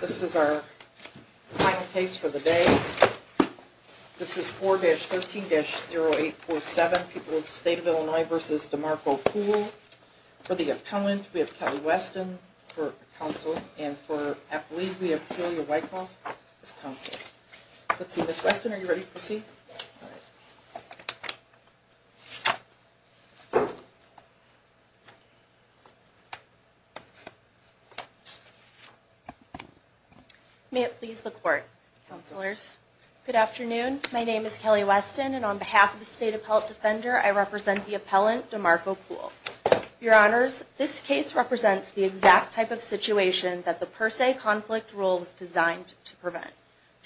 This is our final case for the day. This is 4-13-0847. People of the State of Illinois v. DeMarco Poole. For the appellant, we have Kelly Weston for counsel. And for athlete, we have Julia Wyckoff as counsel. Let's see, Ms. Weston, are you ready to proceed? May it please the Court, Counselors. Good afternoon. My name is Kelly Weston and on behalf of the State Appellate Defender, I represent the appellant, DeMarco Poole. Your Honors, this case represents the exact type of situation that the per se conflict rule was designed to prevent.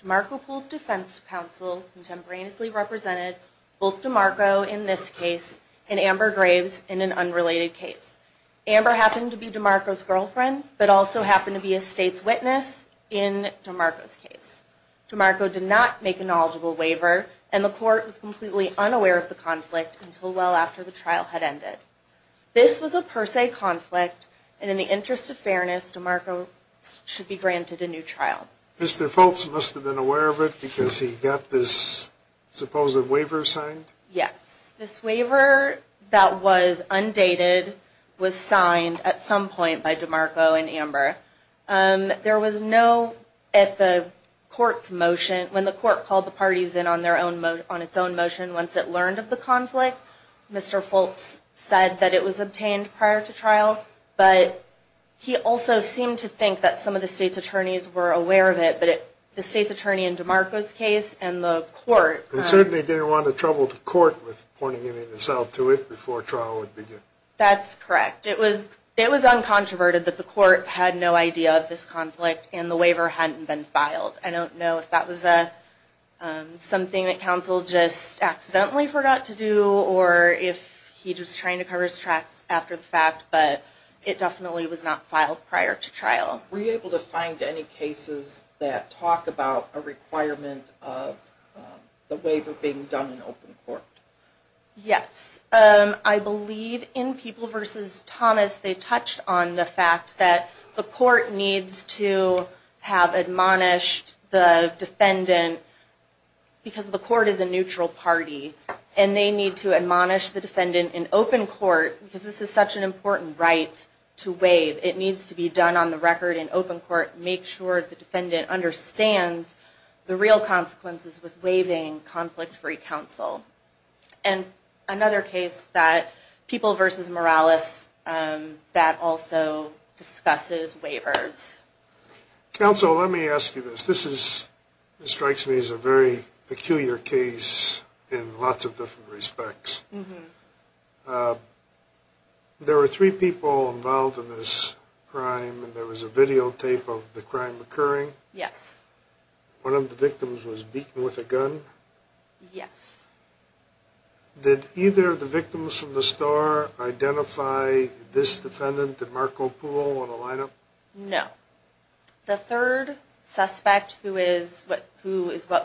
DeMarco Poole's defense counsel contemporaneously represented both DeMarco in this case and Amber Graves in an unrelated case. Amber happened to be DeMarco's girlfriend but also happened to be a State's witness in DeMarco's case. DeMarco did not make a knowledgeable waiver and the Court was completely unaware of the conflict until well after the trial had ended. This was a per se conflict and in the interest of fairness, DeMarco should be granted a new trial. Mr. Foulkes must have been aware of it because he got this supposed waiver signed? Yes. This waiver that was undated was signed at some point by DeMarco and Amber. There was no, at the Court's motion, when the Court called the parties in on their own, on its own motion once it learned of the conflict, Mr. Foulkes said that it was obtained prior to trial. But he also seemed to think that some of the State's attorneys were aware of it, but the State's attorney in DeMarco's case and the Court… He certainly didn't want to trouble the Court with pointing himself to it before trial would begin. That's correct. It was uncontroverted that the Court had no idea of this conflict and the waiver hadn't been filed. I don't know if that was something that counsel just accidentally forgot to do or if he was just trying to cover his tracks after the fact, but it definitely was not filed prior to trial. Were you able to find any cases that talk about a requirement of the waiver being done in open court? Yes. I believe in People v. Thomas they touched on the fact that the Court needs to have admonished the defendant, because the Court is a neutral party, and they need to admonish the defendant in open court, because this is such an important right to waive. It needs to be done on the record in open court, make sure the defendant understands the real consequences with waiving conflict-free counsel. And another case, People v. Morales, that also discusses waivers. Counsel, let me ask you this. This strikes me as a very peculiar case in lots of different respects. There were three people involved in this crime, and there was a videotape of the crime occurring. Yes. One of the victims was beaten with a gun. Yes. Did either of the victims from the star identify this defendant, did Marco Pulo, on a lineup? No. The third suspect, who is what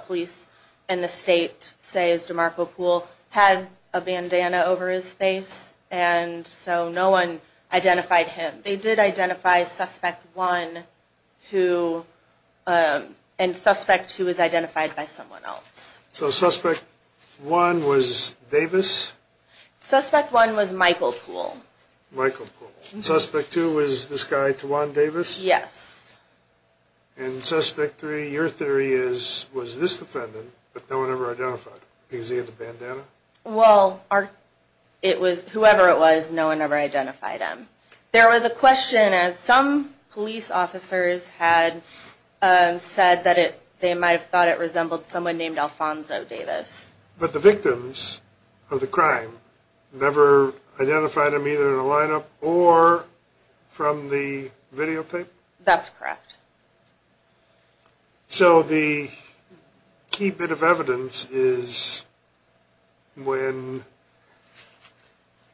police in the state say is DeMarco Pulo, had a bandana over his face, and so no one identified him. They did identify Suspect 1, and Suspect 2 was identified by someone else. So Suspect 1 was Davis? Suspect 1 was Michael Pulo. Michael Pulo. And Suspect 2 was this guy, Tawan Davis? Yes. And Suspect 3, your theory is, was this defendant, but no one ever identified him, because he had a bandana? Well, whoever it was, no one ever identified him. There was a question, as some police officers had said that they might have thought it resembled someone named Alfonso Davis. But the victims of the crime never identified him either in a lineup or from the videotape? That's correct. So the key bit of evidence is when,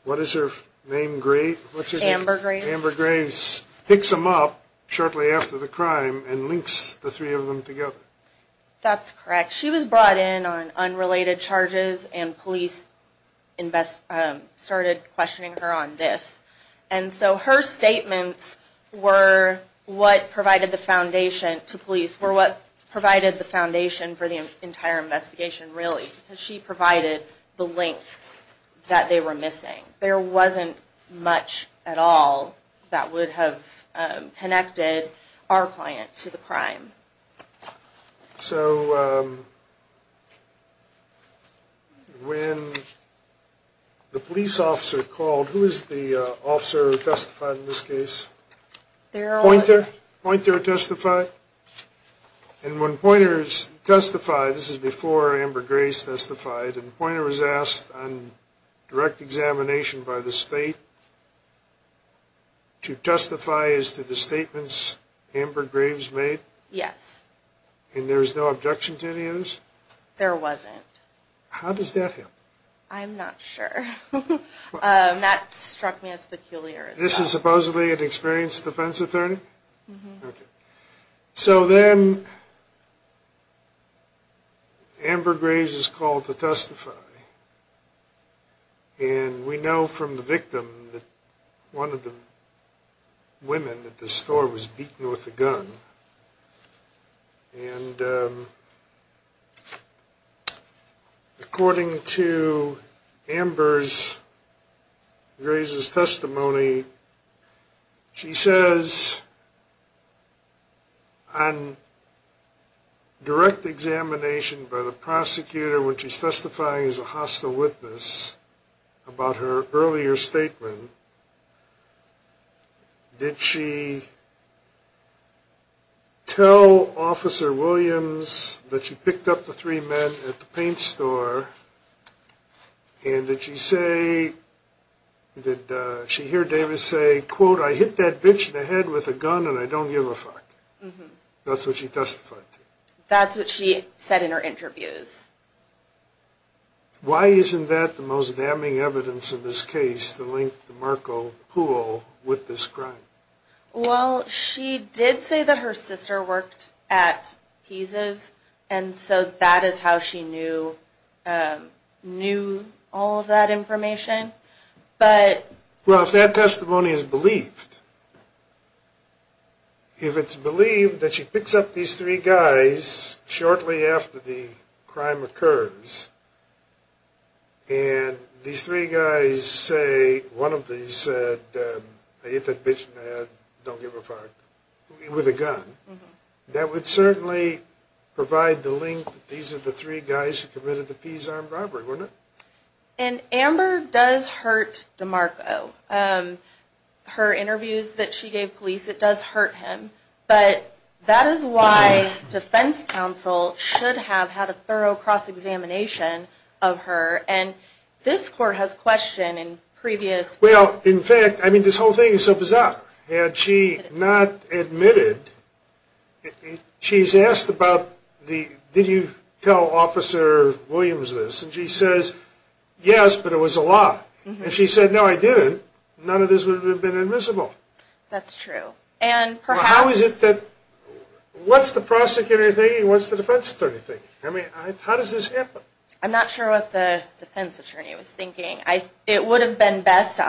what is her name, Grace? Amber Grace. Amber Grace picks him up shortly after the crime and links the three of them together. That's correct. She was brought in on unrelated charges, and police started questioning her on this. And so her statements were what provided the foundation to police, were what provided the foundation for the entire investigation, really. She provided the link that they were missing. There wasn't much at all that would have connected our client to the crime. So when the police officer called, who is the officer who testified in this case? Poynter. Poynter testified? And when Poynter testified, this is before Amber Grace testified, and Poynter was asked on direct examination by the state to testify as to the statements Amber Grace made? Yes. And there was no objection to any of this? There wasn't. How does that help? I'm not sure. That struck me as peculiar as well. This is supposedly an experienced defense attorney? Mm-hmm. Okay. So then Amber Grace is called to testify. And we know from the victim that one of the women at the store was beaten with a gun. And according to Amber Grace's testimony, she says on direct examination by the prosecutor when she's testifying as a hostile witness about her earlier statement, did she tell Officer Williams that she picked up the three men at the paint store? And did she say, did she hear Davis say, quote, I hit that bitch in the head with a gun and I don't give a fuck? Mm-hmm. That's what she testified to? That's what she said in her interviews. Why isn't that the most damning evidence in this case to link the Marco pool with this crime? Well, she did say that her sister worked at Pisa's, and so that is how she knew all of that information. Well, if that testimony is believed, if it's believed that she picks up these three guys shortly after the crime occurs, and these three guys say, one of these said, I hit that bitch in the head, don't give a fuck, with a gun, that would certainly provide the link that these are the three guys who committed the Pisa armed robbery, wouldn't it? And Amber does hurt DeMarco. Her interviews that she gave police, it does hurt him. But that is why defense counsel should have had a thorough cross-examination of her. And this court has questioned in previous – Well, in fact, I mean, this whole thing is so bizarre. Had she not admitted, she's asked about the, did you tell Officer Williams this? And she says, yes, but it was a lie. If she said, no, I didn't, none of this would have been admissible. That's true. How is it that, what's the prosecutor thinking, what's the defense attorney thinking? I mean, how does this happen? I'm not sure what the defense attorney was thinking. It would have been best,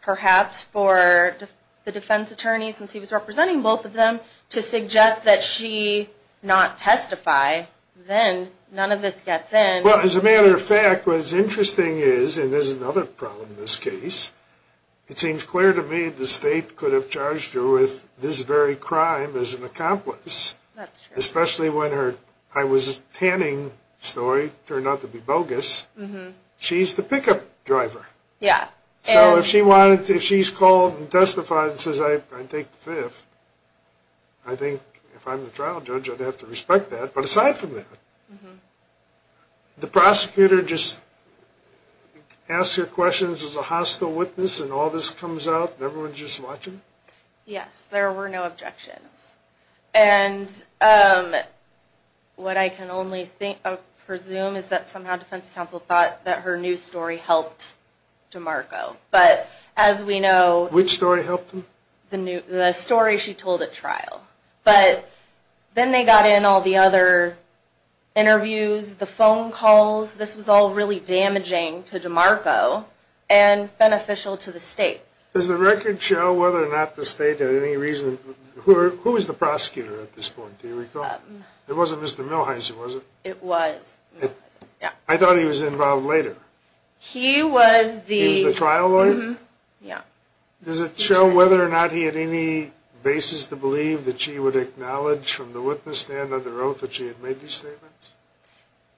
perhaps, for the defense attorney, since he was representing both of them, to suggest that she not testify, then none of this gets in. Well, as a matter of fact, what's interesting is, and this is another problem in this case, it seems clear to me the state could have charged her with this very crime as an accomplice. That's true. Especially when her, I was panning story turned out to be bogus. She's the pickup driver. Yeah. So if she wanted, if she's called and testified and says, I take the fifth, I think if I'm the trial judge I'd have to respect that. But aside from that, the prosecutor just asks her questions as a hostile witness and all this comes out and everyone's just watching? Yes, there were no objections. And what I can only presume is that somehow defense counsel thought that her new story helped DeMarco. But as we know, Which story helped him? The story she told at trial. But then they got in all the other interviews, the phone calls, this was all really damaging to DeMarco and beneficial to the state. Does the record show whether or not the state had any reason, who was the prosecutor at this point, do you recall? It wasn't Mr. Milheiser, was it? It was. I thought he was involved later. He was the trial lawyer? Yeah. Does it show whether or not he had any basis to believe that she would acknowledge from the witness stand under oath that she had made these statements?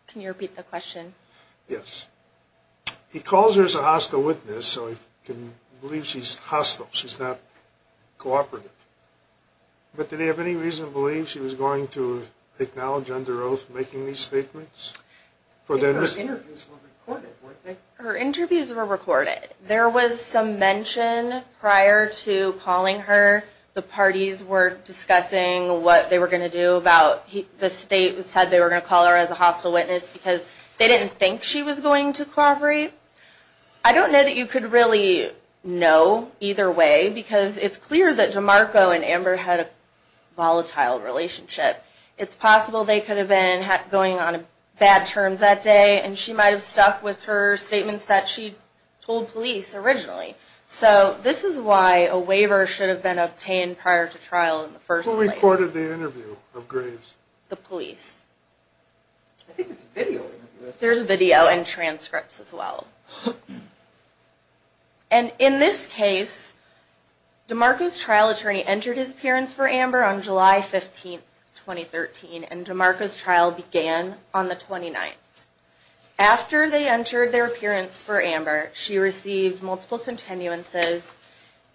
Can you repeat the question? Yes. He calls her as a hostile witness so he can believe she's hostile, she's not cooperative. But did he have any reason to believe she was going to acknowledge under oath making these statements? Her interviews were recorded, weren't they? Her interviews were recorded. There was some mention prior to calling her the parties were discussing what they were going to do about the state said they were going to call her as a hostile witness because they didn't think she was going to cooperate. I don't know that you could really know either way because it's clear that DeMarco and Amber had a volatile relationship. It's possible they could have been going on bad terms that day and she might have stuck with her statements that she told police originally. So this is why a waiver should have been obtained prior to trial in the first place. Who recorded the interview of Graves? The police. I think it's video. There's video and transcripts as well. And in this case, DeMarco's trial attorney entered his appearance for Amber on July 15, 2013 and DeMarco's trial began on the 29th. After they entered their appearance for Amber, she received multiple continuances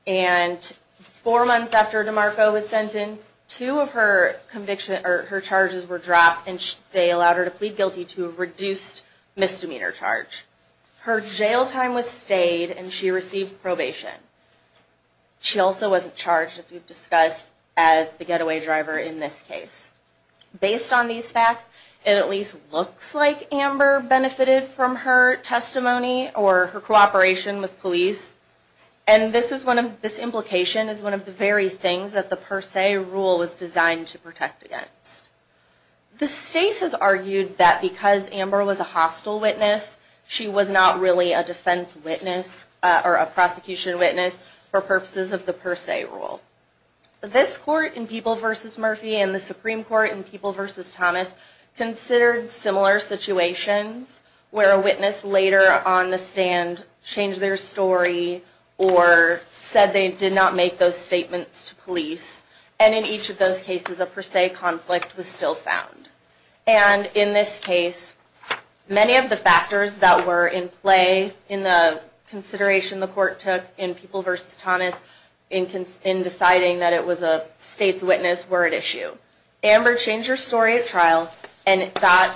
and four months after DeMarco was sentenced, two of her charges were dropped and they allowed her to plead guilty to a reduced misdemeanor charge. Her jail time was stayed and she received probation. She also wasn't charged as we've discussed as the getaway driver in this case. Based on these facts, it at least looks like Amber benefited from her testimony or her cooperation with police and this implication is one of the very things that the per se rule was designed to protect against. The state has argued that because Amber was a hostile witness, she was not really a defense witness or a prosecution witness for purposes of the per se rule. This court in People v. Murphy and the Supreme Court in People v. Thomas considered similar situations where a witness later on the stand changed their story or said they did not make those statements to police and in each of those cases a per se conflict was still found. And in this case, many of the factors that were in play in the consideration the court took in People v. Thomas in deciding that it was a state's witness were at issue. Amber changed her story at trial and got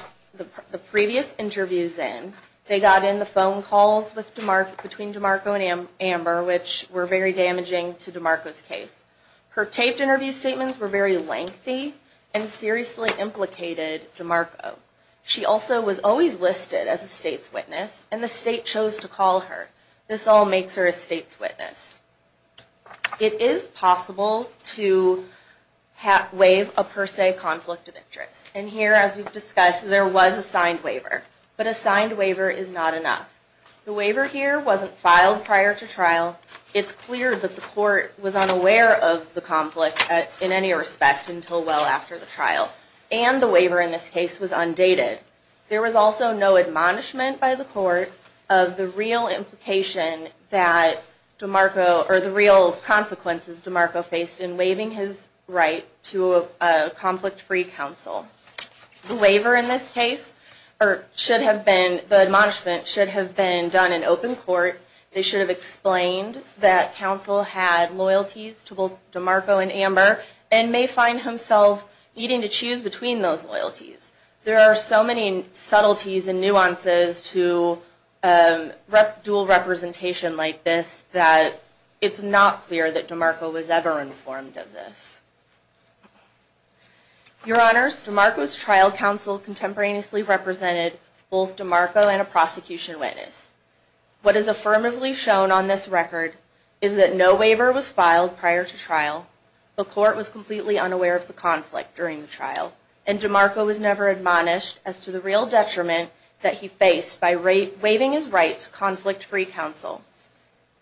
the previous interviews in. They got in the phone calls between DeMarco and Amber which were very damaging to DeMarco's case. Her taped interview statements were very lengthy and seriously implicated DeMarco. She also was always listed as a state's witness and the state chose to call her. This all makes her a state's witness. It is possible to waive a per se conflict of interest. And here, as we've discussed, there was a signed waiver. But a signed waiver is not enough. The waiver here wasn't filed prior to trial. It's clear that the court was unaware of the conflict in any respect until well after the trial. And the waiver in this case was undated. There was also no admonishment by the court of the real implication that DeMarco, or the real consequences DeMarco faced in waiving his right to a conflict-free counsel. The waiver in this case, or the admonishment, should have been done in open court. They should have explained that counsel had loyalties to both DeMarco and Amber and may find himself needing to choose between those loyalties. There are so many subtleties and nuances to dual representation like this that it's not clear that DeMarco was ever informed of this. Your Honors, DeMarco's trial counsel contemporaneously represented both DeMarco and a prosecution witness. What is affirmatively shown on this record is that no waiver was filed prior to trial, the court was completely unaware of the conflict during the trial, and DeMarco was never admonished as to the real detriment that he faced by waiving his right to conflict-free counsel.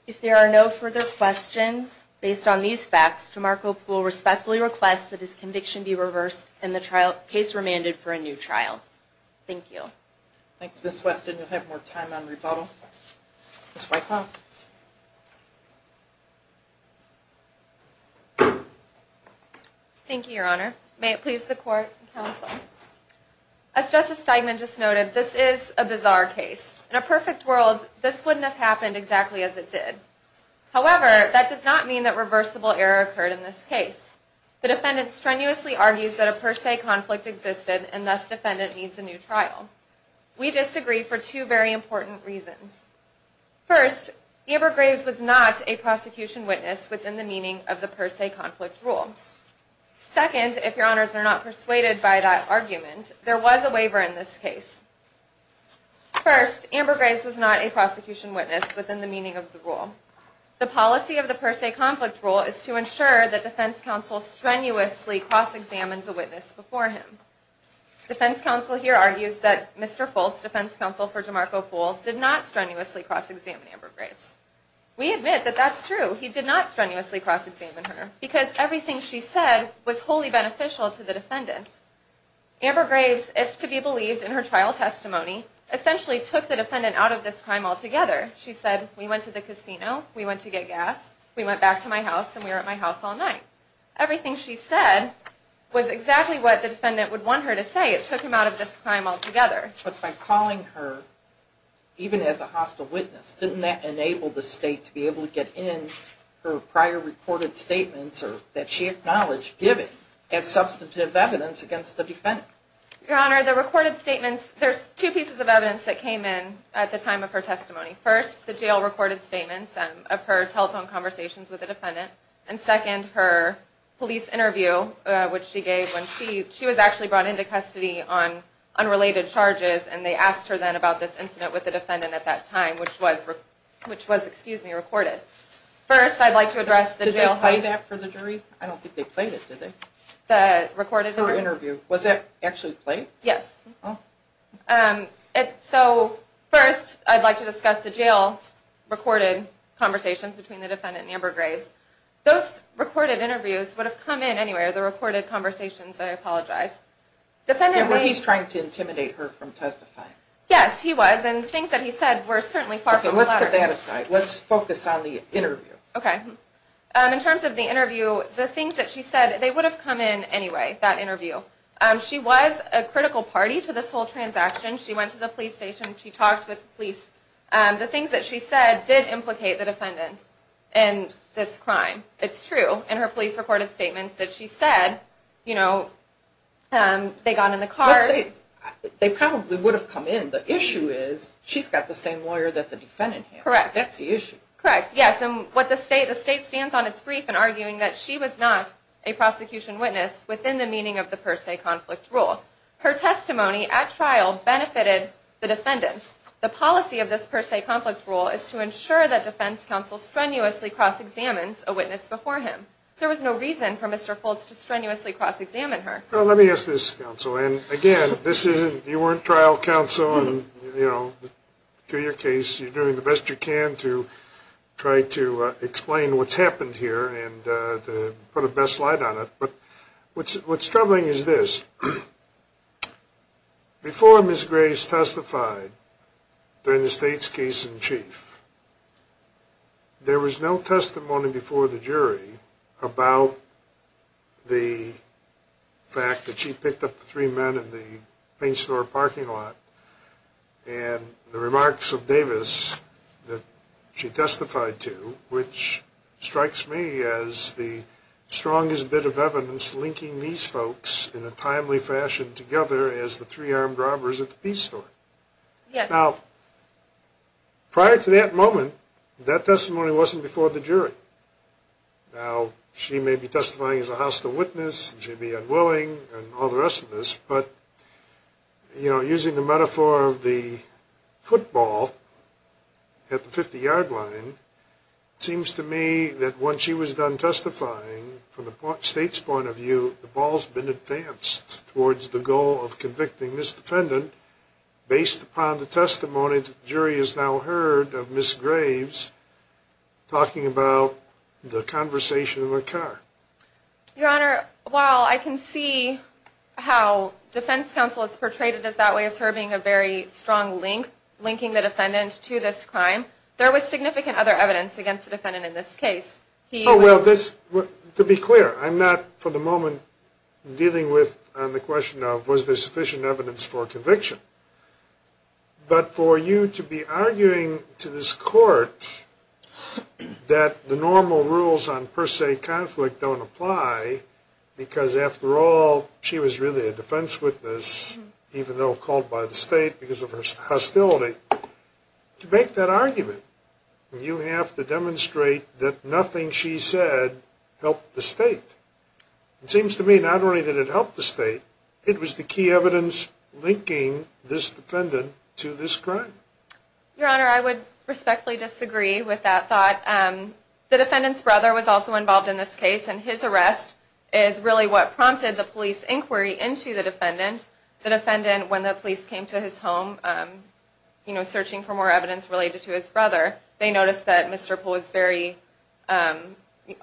If there are no further questions, based on these facts, DeMarco will respectfully request that his conviction be reversed and the case remanded for a new trial. Thank you. Thanks, Ms. Weston. You'll have more time on rebuttal. Ms. Weickhoff. Thank you, Your Honor. May it please the court and counsel. As Justice Steigman just noted, this is a bizarre case. In a perfect world, this wouldn't have happened exactly as it did. However, that does not mean that reversible error occurred in this case. The defendant strenuously argues that a per se conflict existed, and thus defendant needs a new trial. We disagree for two very important reasons. First, Amber Graves was not a prosecution witness within the meaning of the per se conflict rule. Second, if Your Honors are not persuaded by that argument, there was a waiver in this case. First, Amber Graves was not a prosecution witness within the meaning of the rule. The policy of the per se conflict rule is to ensure that defense counsel strenuously cross-examines a witness before him. Defense counsel here argues that Mr. Foltz, defense counsel for DeMarco Poole, did not strenuously cross-examine Amber Graves. We admit that that's true. He did not strenuously cross-examine her. Because everything she said was wholly beneficial to the defendant. Amber Graves, if to be believed in her trial testimony, essentially took the defendant out of this crime altogether. She said, we went to the casino, we went to get gas, we went back to my house, and we were at my house all night. Everything she said was exactly what the defendant would want her to say. It took him out of this crime altogether. But by calling her, even as a hostile witness, didn't that enable the state to be able to get in her prior recorded statements that she acknowledged giving as substantive evidence against the defendant? Your Honor, the recorded statements, there's two pieces of evidence that came in at the time of her testimony. First, the jail recorded statements of her telephone conversations with the defendant. And second, her police interview, which she gave when she was actually brought into custody on unrelated charges. And they asked her then about this incident with the defendant at that time, which was, excuse me, recorded. First, I'd like to address the jail... Did they play that for the jury? I don't think they played it, did they? The recorded... Her interview. Was that actually played? Yes. Oh. So, first, I'd like to discuss the jail recorded conversations between the defendant and Amber Graves. Those recorded interviews would have come in anyway, the recorded conversations, I apologize. He's trying to intimidate her from testifying. Yes, he was, and the things that he said were certainly far from the latter. Okay, let's put that aside. Let's focus on the interview. Okay. In terms of the interview, the things that she said, they would have come in anyway, that interview. She was a critical party to this whole transaction. She went to the police station, she talked with the police. The things that she said did implicate the defendant in this crime. It's true, in her police recorded statements, that she said, you know, they got in the car... Let's say, they probably would have come in. The issue is, she's got the same lawyer that the defendant has. Correct. That's the issue. Correct, yes. The state stands on its brief in arguing that she was not a prosecution witness within the meaning of the per se conflict rule. Her testimony at trial benefited the defendant. The policy of this per se conflict rule is to ensure that defense counsel strenuously cross-examines a witness before him. There was no reason for Mr. Foltz to strenuously cross-examine her. Well, let me ask this, counsel, and again, this isn't... You know, in your case, you're doing the best you can to try to explain what's happened here and to put a best light on it, but what's troubling is this. Before Ms. Grace testified, during the state's case in chief, there was no testimony before the jury about the fact that she picked up the three men in the paint store parking lot and the remarks of Davis that she testified to, which strikes me as the strongest bit of evidence linking these folks in a timely fashion together as the three armed robbers at the paint store. Yes. Now, prior to that moment, that testimony wasn't before the jury. Now, she may be testifying as a hostile witness and she may be unwilling and all the rest of this, but, you know, using the metaphor of the football at the 50-yard line, it seems to me that when she was done testifying, from the state's point of view, the ball's been advanced towards the goal of convicting this defendant based upon the testimony that the jury has now heard of Ms. Graves talking about the conversation in the car. Your Honor, while I can see how defense counsel has portrayed it as that way, as her being a very strong link, linking the defendant to this crime, there was significant other evidence against the defendant in this case. Oh, well, to be clear, I'm not for the moment dealing with the question of was there sufficient evidence for conviction. But for you to be arguing to this court that the normal rules on per se conflict don't apply because, after all, she was really a defense witness, even though called by the state because of her hostility, to make that argument, you have to demonstrate that nothing she said helped the state. It seems to me not only did it help the state, it was the key evidence linking this defendant to this crime. Your Honor, I would respectfully disagree with that thought. The defendant's brother was also involved in this case, and his arrest is really what prompted the police inquiry into the defendant. The defendant, when the police came to his home, you know, searching for more evidence related to his brother, they noticed that Mr. Poole was very,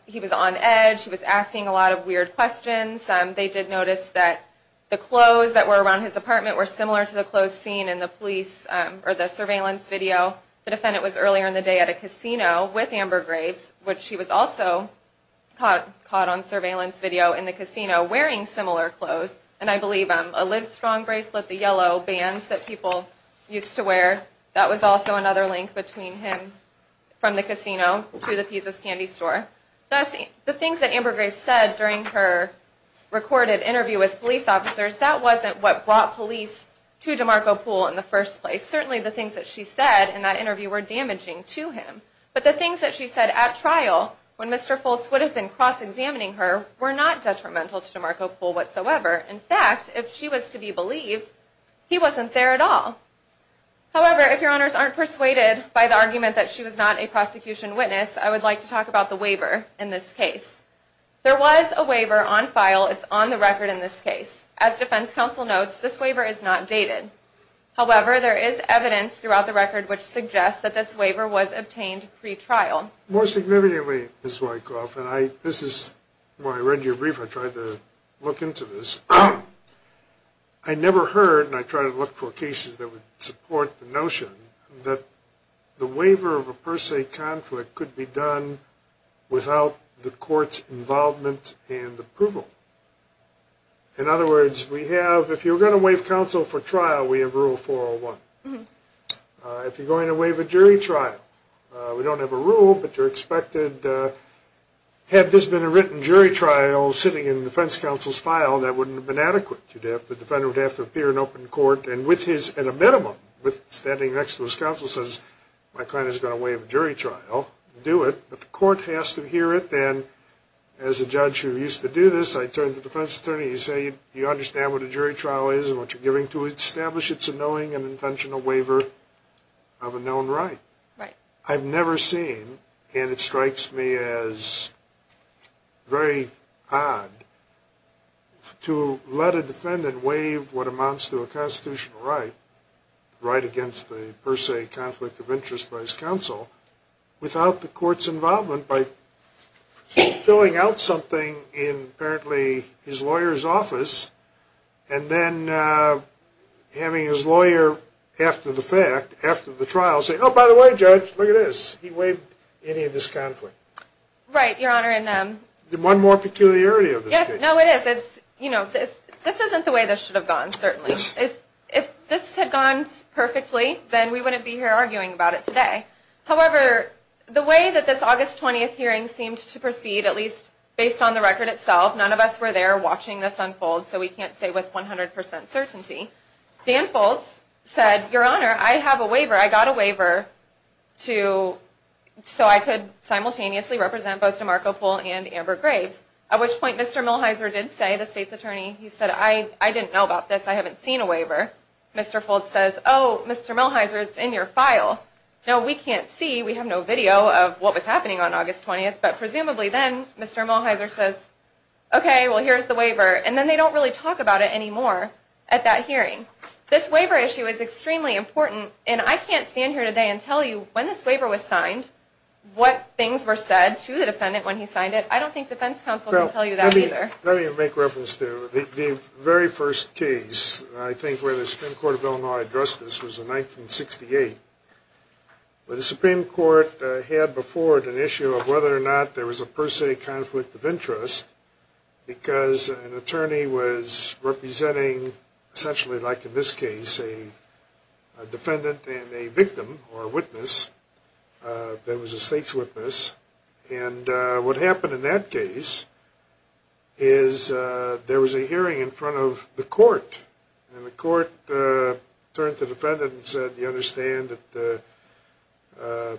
he was on edge, he was asking a lot of weird questions. They did notice that the clothes that were around his apartment were similar to the clothes seen in the police, or the surveillance video. The defendant was earlier in the day at a casino with Amber Graves, which she was also caught on surveillance video in the casino wearing similar clothes, and I believe a Livestrong bracelet, the yellow band that people used to wear, that was also another link between him from the casino to the Pisa's candy store. Thus, the things that Amber Graves said during her recorded interview with police officers, that wasn't what brought police to DeMarco Poole in the first place. Certainly the things that she said in that interview were damaging to him, but the things that she said at trial when Mr. Foltz would have been cross-examining her were not detrimental to DeMarco Poole whatsoever. In fact, if she was to be believed, he wasn't there at all. However, if your honors aren't persuaded by the argument that she was not a prosecution witness, I would like to talk about the waiver in this case. There was a waiver on file, it's on the record in this case. As defense counsel notes, this waiver is not dated. However, there is evidence throughout the record which suggests that this waiver was obtained pre-trial. More significantly, Ms. Wykoff, and this is where I read your brief, I tried to look into this, I never heard, and I tried to look for cases that would support the notion, that the waiver of a per se conflict could be done without the court's involvement and approval. In other words, we have, if you're going to waive counsel for trial, we have Rule 401. If you're going to waive a jury trial, we don't have a rule, but you're expected, had this been a written jury trial sitting in the defense counsel's file, that wouldn't have been adequate. The defendant would have to appear in open court, and with his, at a minimum, with standing next to his counsel says, my client is going to waive a jury trial, do it. But the court has to hear it, and as a judge who used to do this, I turned to the defense attorney, he said, you understand what a jury trial is and what you're giving to establish, it's a knowing and intentional waiver of a known right. I've never seen, and it strikes me as very odd, to let a defendant waive what amounts to a constitutional right, right against the per se conflict of interest by his counsel, without the court's involvement, by filling out something in apparently his lawyer's office, and then having his lawyer, after the fact, after the trial, say, oh, by the way, judge, look at this, he waived any of this conflict. Right, your honor. One more peculiarity of this case. Yes, no, it is. This isn't the way this should have gone, certainly. If this had gone perfectly, then we wouldn't be here arguing about it today. However, the way that this August 20th hearing seemed to proceed, at least based on the record itself, none of us were there watching this unfold, so we can't say with 100% certainty. Dan Foltz said, your honor, I have a waiver, I got a waiver, so I could simultaneously represent both DeMarco Poole and Amber Graves, at which point Mr. Milhiser did say, the state's attorney, he said, I didn't know about this, I haven't seen a waiver. Mr. Foltz says, oh, Mr. Milhiser, it's in your file. Now, we can't see, we have no video of what was happening on August 20th, but presumably then, Mr. Milhiser says, okay, well, here's the waiver, and then they don't really talk about it anymore at that hearing. This waiver issue is extremely important, and I can't stand here today and tell you, when this waiver was signed, what things were said to the defendant when he signed it. I don't think defense counsel can tell you that either. Let me make reference to the very first case, I think, where the Supreme Court of Illinois addressed this was in 1968, where the Supreme Court had before it an issue of whether or not there was a per se conflict of interest, because an attorney was representing, essentially like in this case, a defendant and a victim or witness that was a state's witness. And what happened in that case is there was a hearing in front of the court, and the court turned to the defendant and said, you understand that the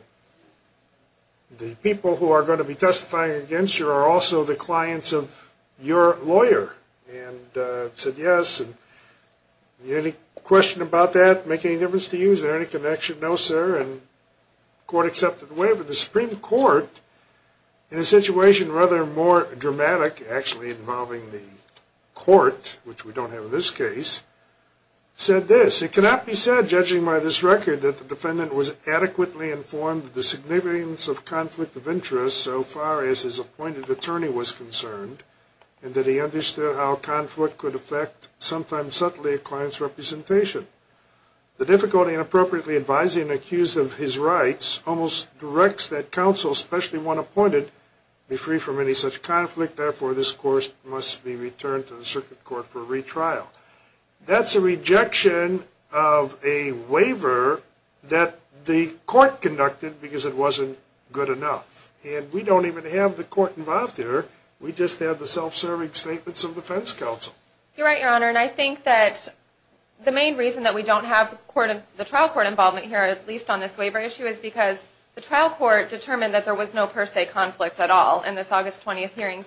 people who are going to be testifying against you are also the clients of your lawyer, and said yes. Any question about that, make any difference to you? Is there any connection? No, sir. And the court accepted the waiver. The Supreme Court, in a situation rather more dramatic actually involving the court, which we don't have in this case, said this. It cannot be said, judging by this record, that the defendant was adequately informed of the significance of conflict of interest so far as his appointed attorney was concerned, and that he understood how conflict could affect, sometimes subtly, a client's representation. The difficulty in appropriately advising an accused of his rights almost directs that counsel, especially one appointed, be free from any such conflict, therefore this court must be returned to the circuit court for retrial. That's a rejection of a waiver that the court conducted because it wasn't good enough. And we don't even have the court involved here, we just have the self-serving statements of defense counsel. You're right, Your Honor, and I think that the main reason that we don't have the trial court involvement here, at least on this waiver issue, is because the trial court determined that there was no per se conflict at all in this August 20th hearing.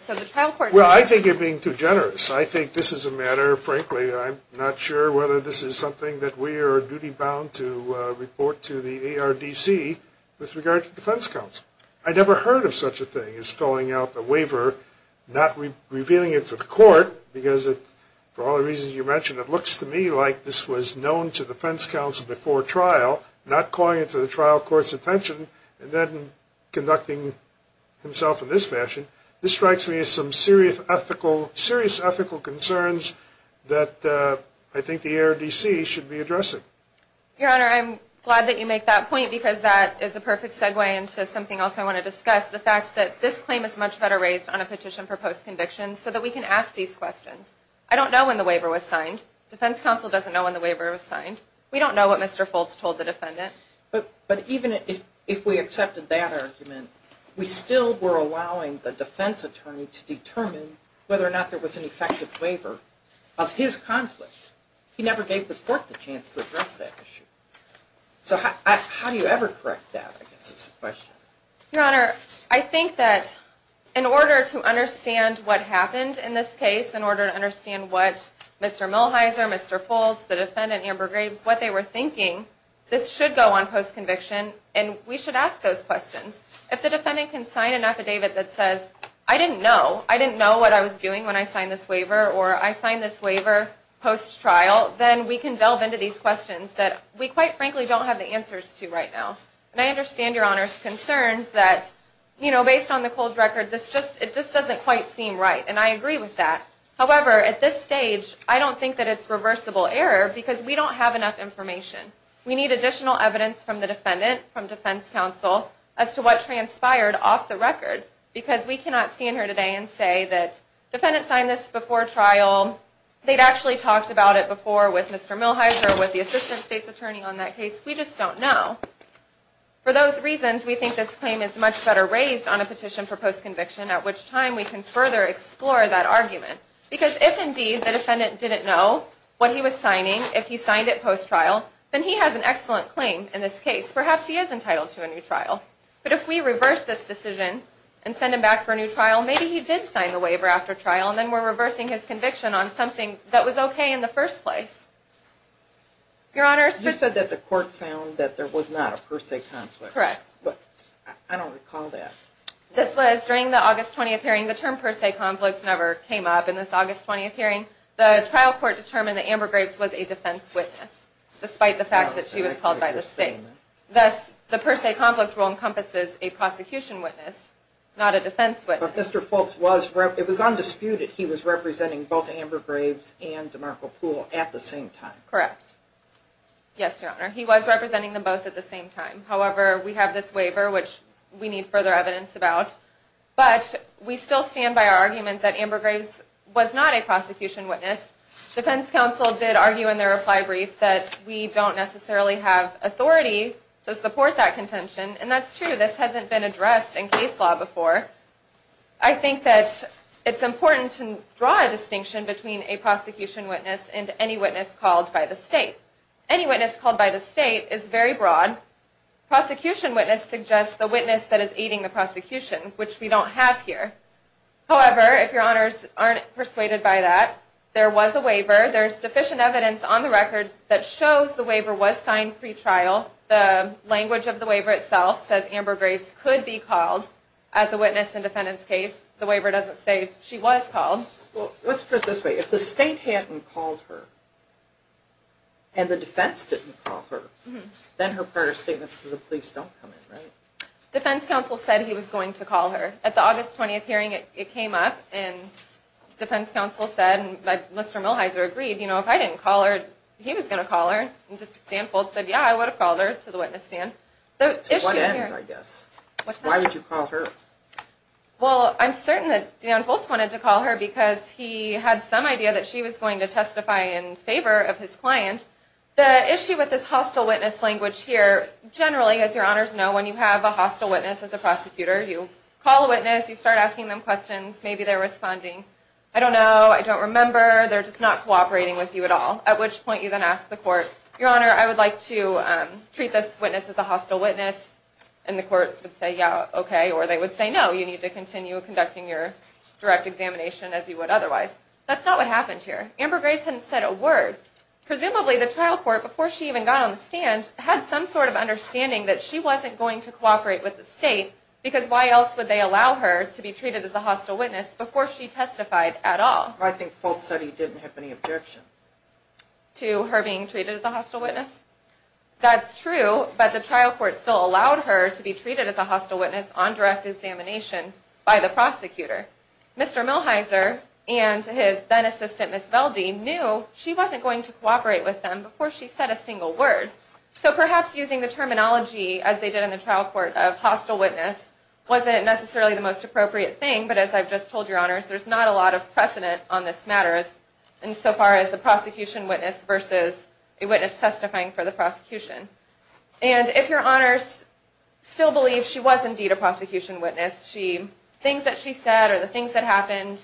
Well, I think you're being too generous. I think this is a matter, frankly, I'm not sure whether this is something that we are duty-bound to report to the ARDC with regard to defense counsel. I never heard of such a thing as filling out the waiver, not revealing it to the court, because, for all the reasons you mentioned, it looks to me like this was known to defense counsel before trial, not calling it to the trial court's attention, and then conducting himself in this fashion. This strikes me as some serious ethical concerns that I think the ARDC should be addressing. Your Honor, I'm glad that you make that point, because that is a perfect segue into something else I want to discuss, the fact that this claim is much better raised on a petition for post-conviction, so that we can ask these questions. I don't know when the waiver was signed. Defense counsel doesn't know when the waiver was signed. We don't know what Mr. Foltz told the defendant. But even if we accepted that argument, we still were allowing the defense attorney to determine whether or not there was an effective waiver of his conflict. He never gave the court the chance to address that issue. So how do you ever correct that? I guess it's a question. Your Honor, I think that in order to understand what happened in this case, in order to understand what Mr. Mulheiser, Mr. Foltz, the defendant, Amber Graves, what they were thinking, this should go on post-conviction, and we should ask those questions. If the defendant can sign an affidavit that says, I didn't know, I didn't know what I was doing when I signed this waiver, or I signed this waiver post-trial, then we can delve into these questions that we quite frankly don't have the answers to right now. And I understand Your Honor's concerns that, you know, based on the cold record, it just doesn't quite seem right, and I agree with that. However, at this stage, I don't think that it's reversible error, because we don't have enough information. We need additional evidence from the defendant, from defense counsel, as to what transpired off the record, because we cannot stand here today and say that the defendant signed this before trial, they'd actually talked about it before with Mr. Mulheiser, with the assistant state's attorney on that case. We just don't know. For those reasons, we think this claim is much better raised on a petition for post-conviction, at which time we can further explore that argument. Because if indeed the defendant didn't know what he was signing, if he signed it post-trial, then he has an excellent claim in this case. Perhaps he is entitled to a new trial. But if we reverse this decision and send him back for a new trial, maybe he did sign the waiver after trial, and then we're reversing his conviction on something that was okay in the first place. Your Honor, it's just... You said that the court found that there was not a per se conflict. Correct. But I don't recall that. This was during the August 20th hearing. The term per se conflict never came up in this August 20th hearing. The trial court determined that Amber Graves was a defense witness, despite the fact that she was called by the state. Thus, the per se conflict rule encompasses a prosecution witness, not a defense witness. But Mr. Fultz was... It was undisputed he was representing both Amber Graves and DeMarco Poole at the same time. Correct. Yes, Your Honor. He was representing them both at the same time. However, we have this waiver, which we need further evidence about. But we still stand by our argument that Amber Graves was not a prosecution witness. Defense counsel did argue in their reply brief that we don't necessarily have authority to support that contention. And that's true. This hasn't been addressed in case law before. I think that it's important to draw a distinction between a prosecution witness and any witness called by the state. Any witness called by the state is very broad. Prosecution witness suggests the witness that is aiding the prosecution, which we don't have here. However, if Your Honors aren't persuaded by that, there was a waiver. There's sufficient evidence on the record that shows the waiver was signed pre-trial. The language of the waiver itself says Amber Graves could be called as a witness in defendant's case. The waiver doesn't say she was called. Well, let's put it this way. If the state hadn't called her and the defense didn't call her, then her prior statements to the police don't come in, right? Defense counsel said he was going to call her. At the August 20th hearing, it came up, and defense counsel said, and Mr. Milhiser agreed, if I didn't call her, he was going to call her. Dan Foltz said, yeah, I would have called her to the witness stand. To what end, I guess? Why would you call her? Well, I'm certain that Dan Foltz wanted to call her because he had some idea that she was going to testify in favor of his client. The issue with this hostile witness language here, generally, as Your Honors know, when you have a hostile witness as a prosecutor, you call a witness, you start asking them questions, maybe they're responding, I don't know, I don't remember, they're just not cooperating with you at all, at which point you then ask the court, Your Honor, I would like to treat this witness as a hostile witness, and the court would say, yeah, okay, or they would say, no, you need to continue conducting your direct examination as you would otherwise. That's not what happened here. Amber Graves hadn't said a word. Presumably the trial court, before she even got on the stand, had some sort of understanding that she wasn't going to cooperate with the state because why else would they allow her to be treated as a hostile witness before she testified at all? I think Foltz said he didn't have any objection. To her being treated as a hostile witness? That's true, but the trial court still allowed her to be treated as a hostile witness on direct examination by the prosecutor. Mr. Milheiser and his then-assistant, Ms. Velde, knew she wasn't going to cooperate with them before she said a single word. So perhaps using the terminology, as they did in the trial court, of hostile witness wasn't necessarily the most appropriate thing, but as I've just told Your Honors, there's not a lot of precedent on this matter, insofar as a prosecution witness versus a witness testifying for the prosecution. And if Your Honors still believe she was indeed a prosecution witness, the things that she said or the things that happened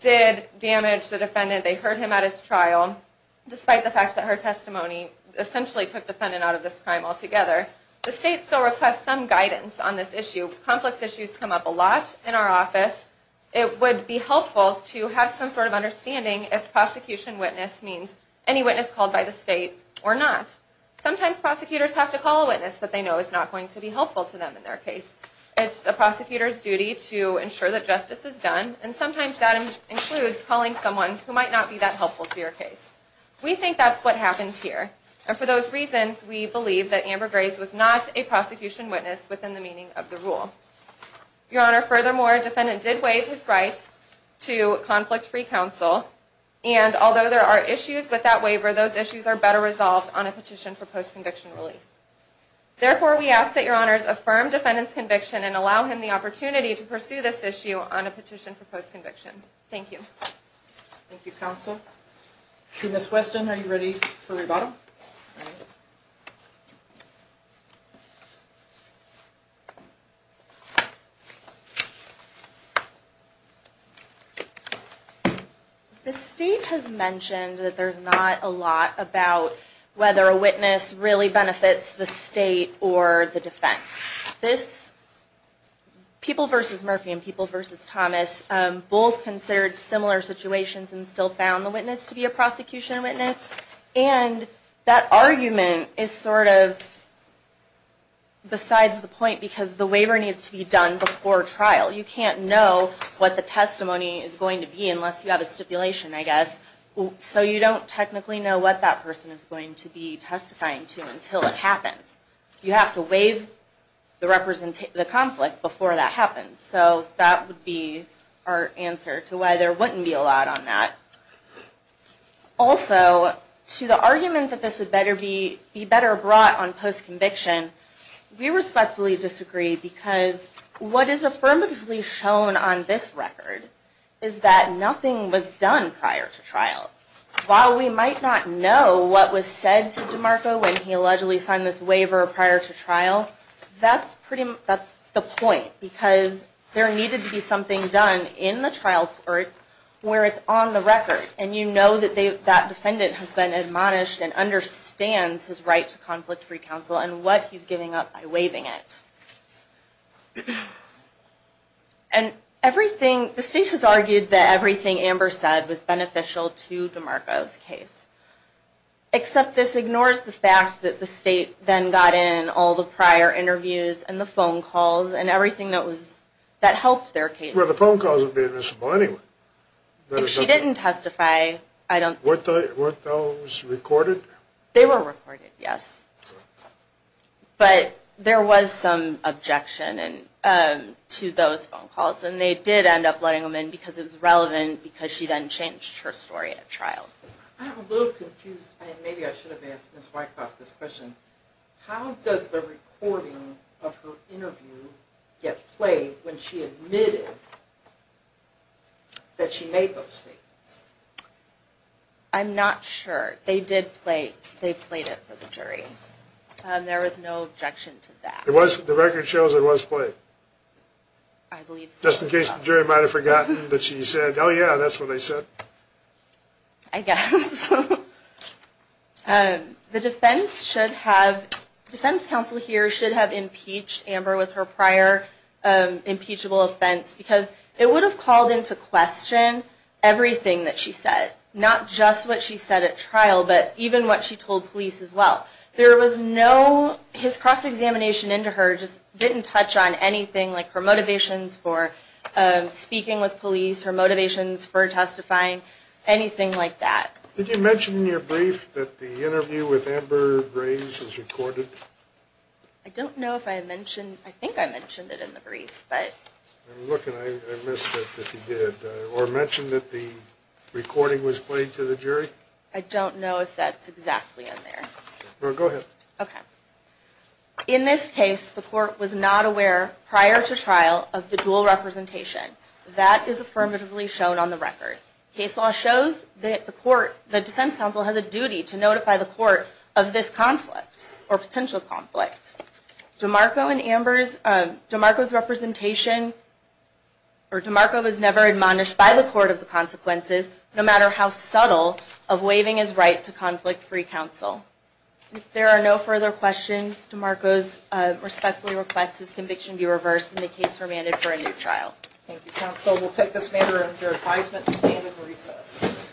did damage the defendant. They heard him at his trial, despite the fact that her testimony essentially took the defendant out of this crime altogether. The state still requests some guidance on this issue. Complex issues come up a lot in our office. It would be helpful to have some sort of understanding if prosecution witness means any witness called by the state or not. Sometimes prosecutors have to call a witness that they know is not going to be helpful to them in their case. It's a prosecutor's duty to ensure that justice is done, and sometimes that includes calling someone who might not be that helpful to your case. We think that's what happened here. And for those reasons, we believe that Amber Grace was not a prosecution witness within the meaning of the rule. Your Honor, furthermore, a defendant did waive his right to conflict-free counsel, and although there are issues with that waiver, those issues are better resolved on a petition for post-conviction relief. Therefore, we ask that Your Honor's affirm defendant's conviction and allow him the opportunity to pursue this issue on a petition for post-conviction. Thank you. Thank you, counsel. Ms. Weston, are you ready for rebuttal? The state has mentioned that there's not a lot about whether a witness really benefits the state or the defense. People v. Murphy and People v. Thomas both considered similar situations and still found the witness to be a prosecution witness. And that argument is sort of besides the point because the waiver needs to be done before trial. You can't know what the testimony is going to be unless you have a stipulation, I guess. So you don't technically know what that person is going to be testifying to until it happens. You have to waive the conflict before that happens. So that would be our answer to why there wouldn't be a lot on that. Also, to the argument that this would be better brought on post-conviction, we respectfully disagree because what is affirmatively shown on this record is that nothing was done prior to trial. While we might not know what was said to DeMarco when he allegedly signed this waiver prior to trial, that's the point because there needed to be something done in the trial court where it's on the record. And you know that that defendant has been admonished and understands his right to conflict-free counsel and what he's giving up by waiving it. And the state has argued that everything Amber said was beneficial to DeMarco's case. Except this ignores the fact that the state then got in all the prior interviews and the phone calls and everything that helped their case. Well, the phone calls would be admissible anyway. If she didn't testify, I don't... Weren't those recorded? They were recorded, yes. But there was some objection to those phone calls. And they did end up letting them in because it was relevant because she then changed her story at trial. I'm a little confused. Maybe I should have asked Ms. Wyckoff this question. How does the recording of her interview get played when she admitted that she made those statements? I'm not sure. They did play... They played it for the jury. There was no objection to that. It was... The record shows it was played. I believe so. Just in case the jury might have forgotten that she said, oh yeah, that's what they said. I guess. The defense should have... The defense counsel here should have impeached Amber with her prior impeachable offense because it would have called into question everything that she said. Not just what she said at trial, but even what she told police as well. There was no... His cross-examination into her just didn't touch on anything like her motivations for speaking with police, her motivations for testifying, anything like that. Did you mention in your brief that the interview with Amber Rays was recorded? I don't know if I mentioned... I think I mentioned it in the brief, but... I'm looking. I missed it if you did. Or mentioned that the recording was played to the jury? I don't know if that's exactly in there. Go ahead. Okay. In this case, the court was not aware prior to trial of the dual representation. That is affirmatively shown on the record. Case law shows that the defense counsel has a duty to notify the court of this conflict or potential conflict. DeMarco and Amber's... DeMarco's representation... No matter how subtle of waiving his right to conflict-free counsel. If there are no further questions, DeMarco respectfully requests this conviction be reversed and the case remanded for a new trial. Thank you, counsel. We'll take this matter under advisement to stand in recess.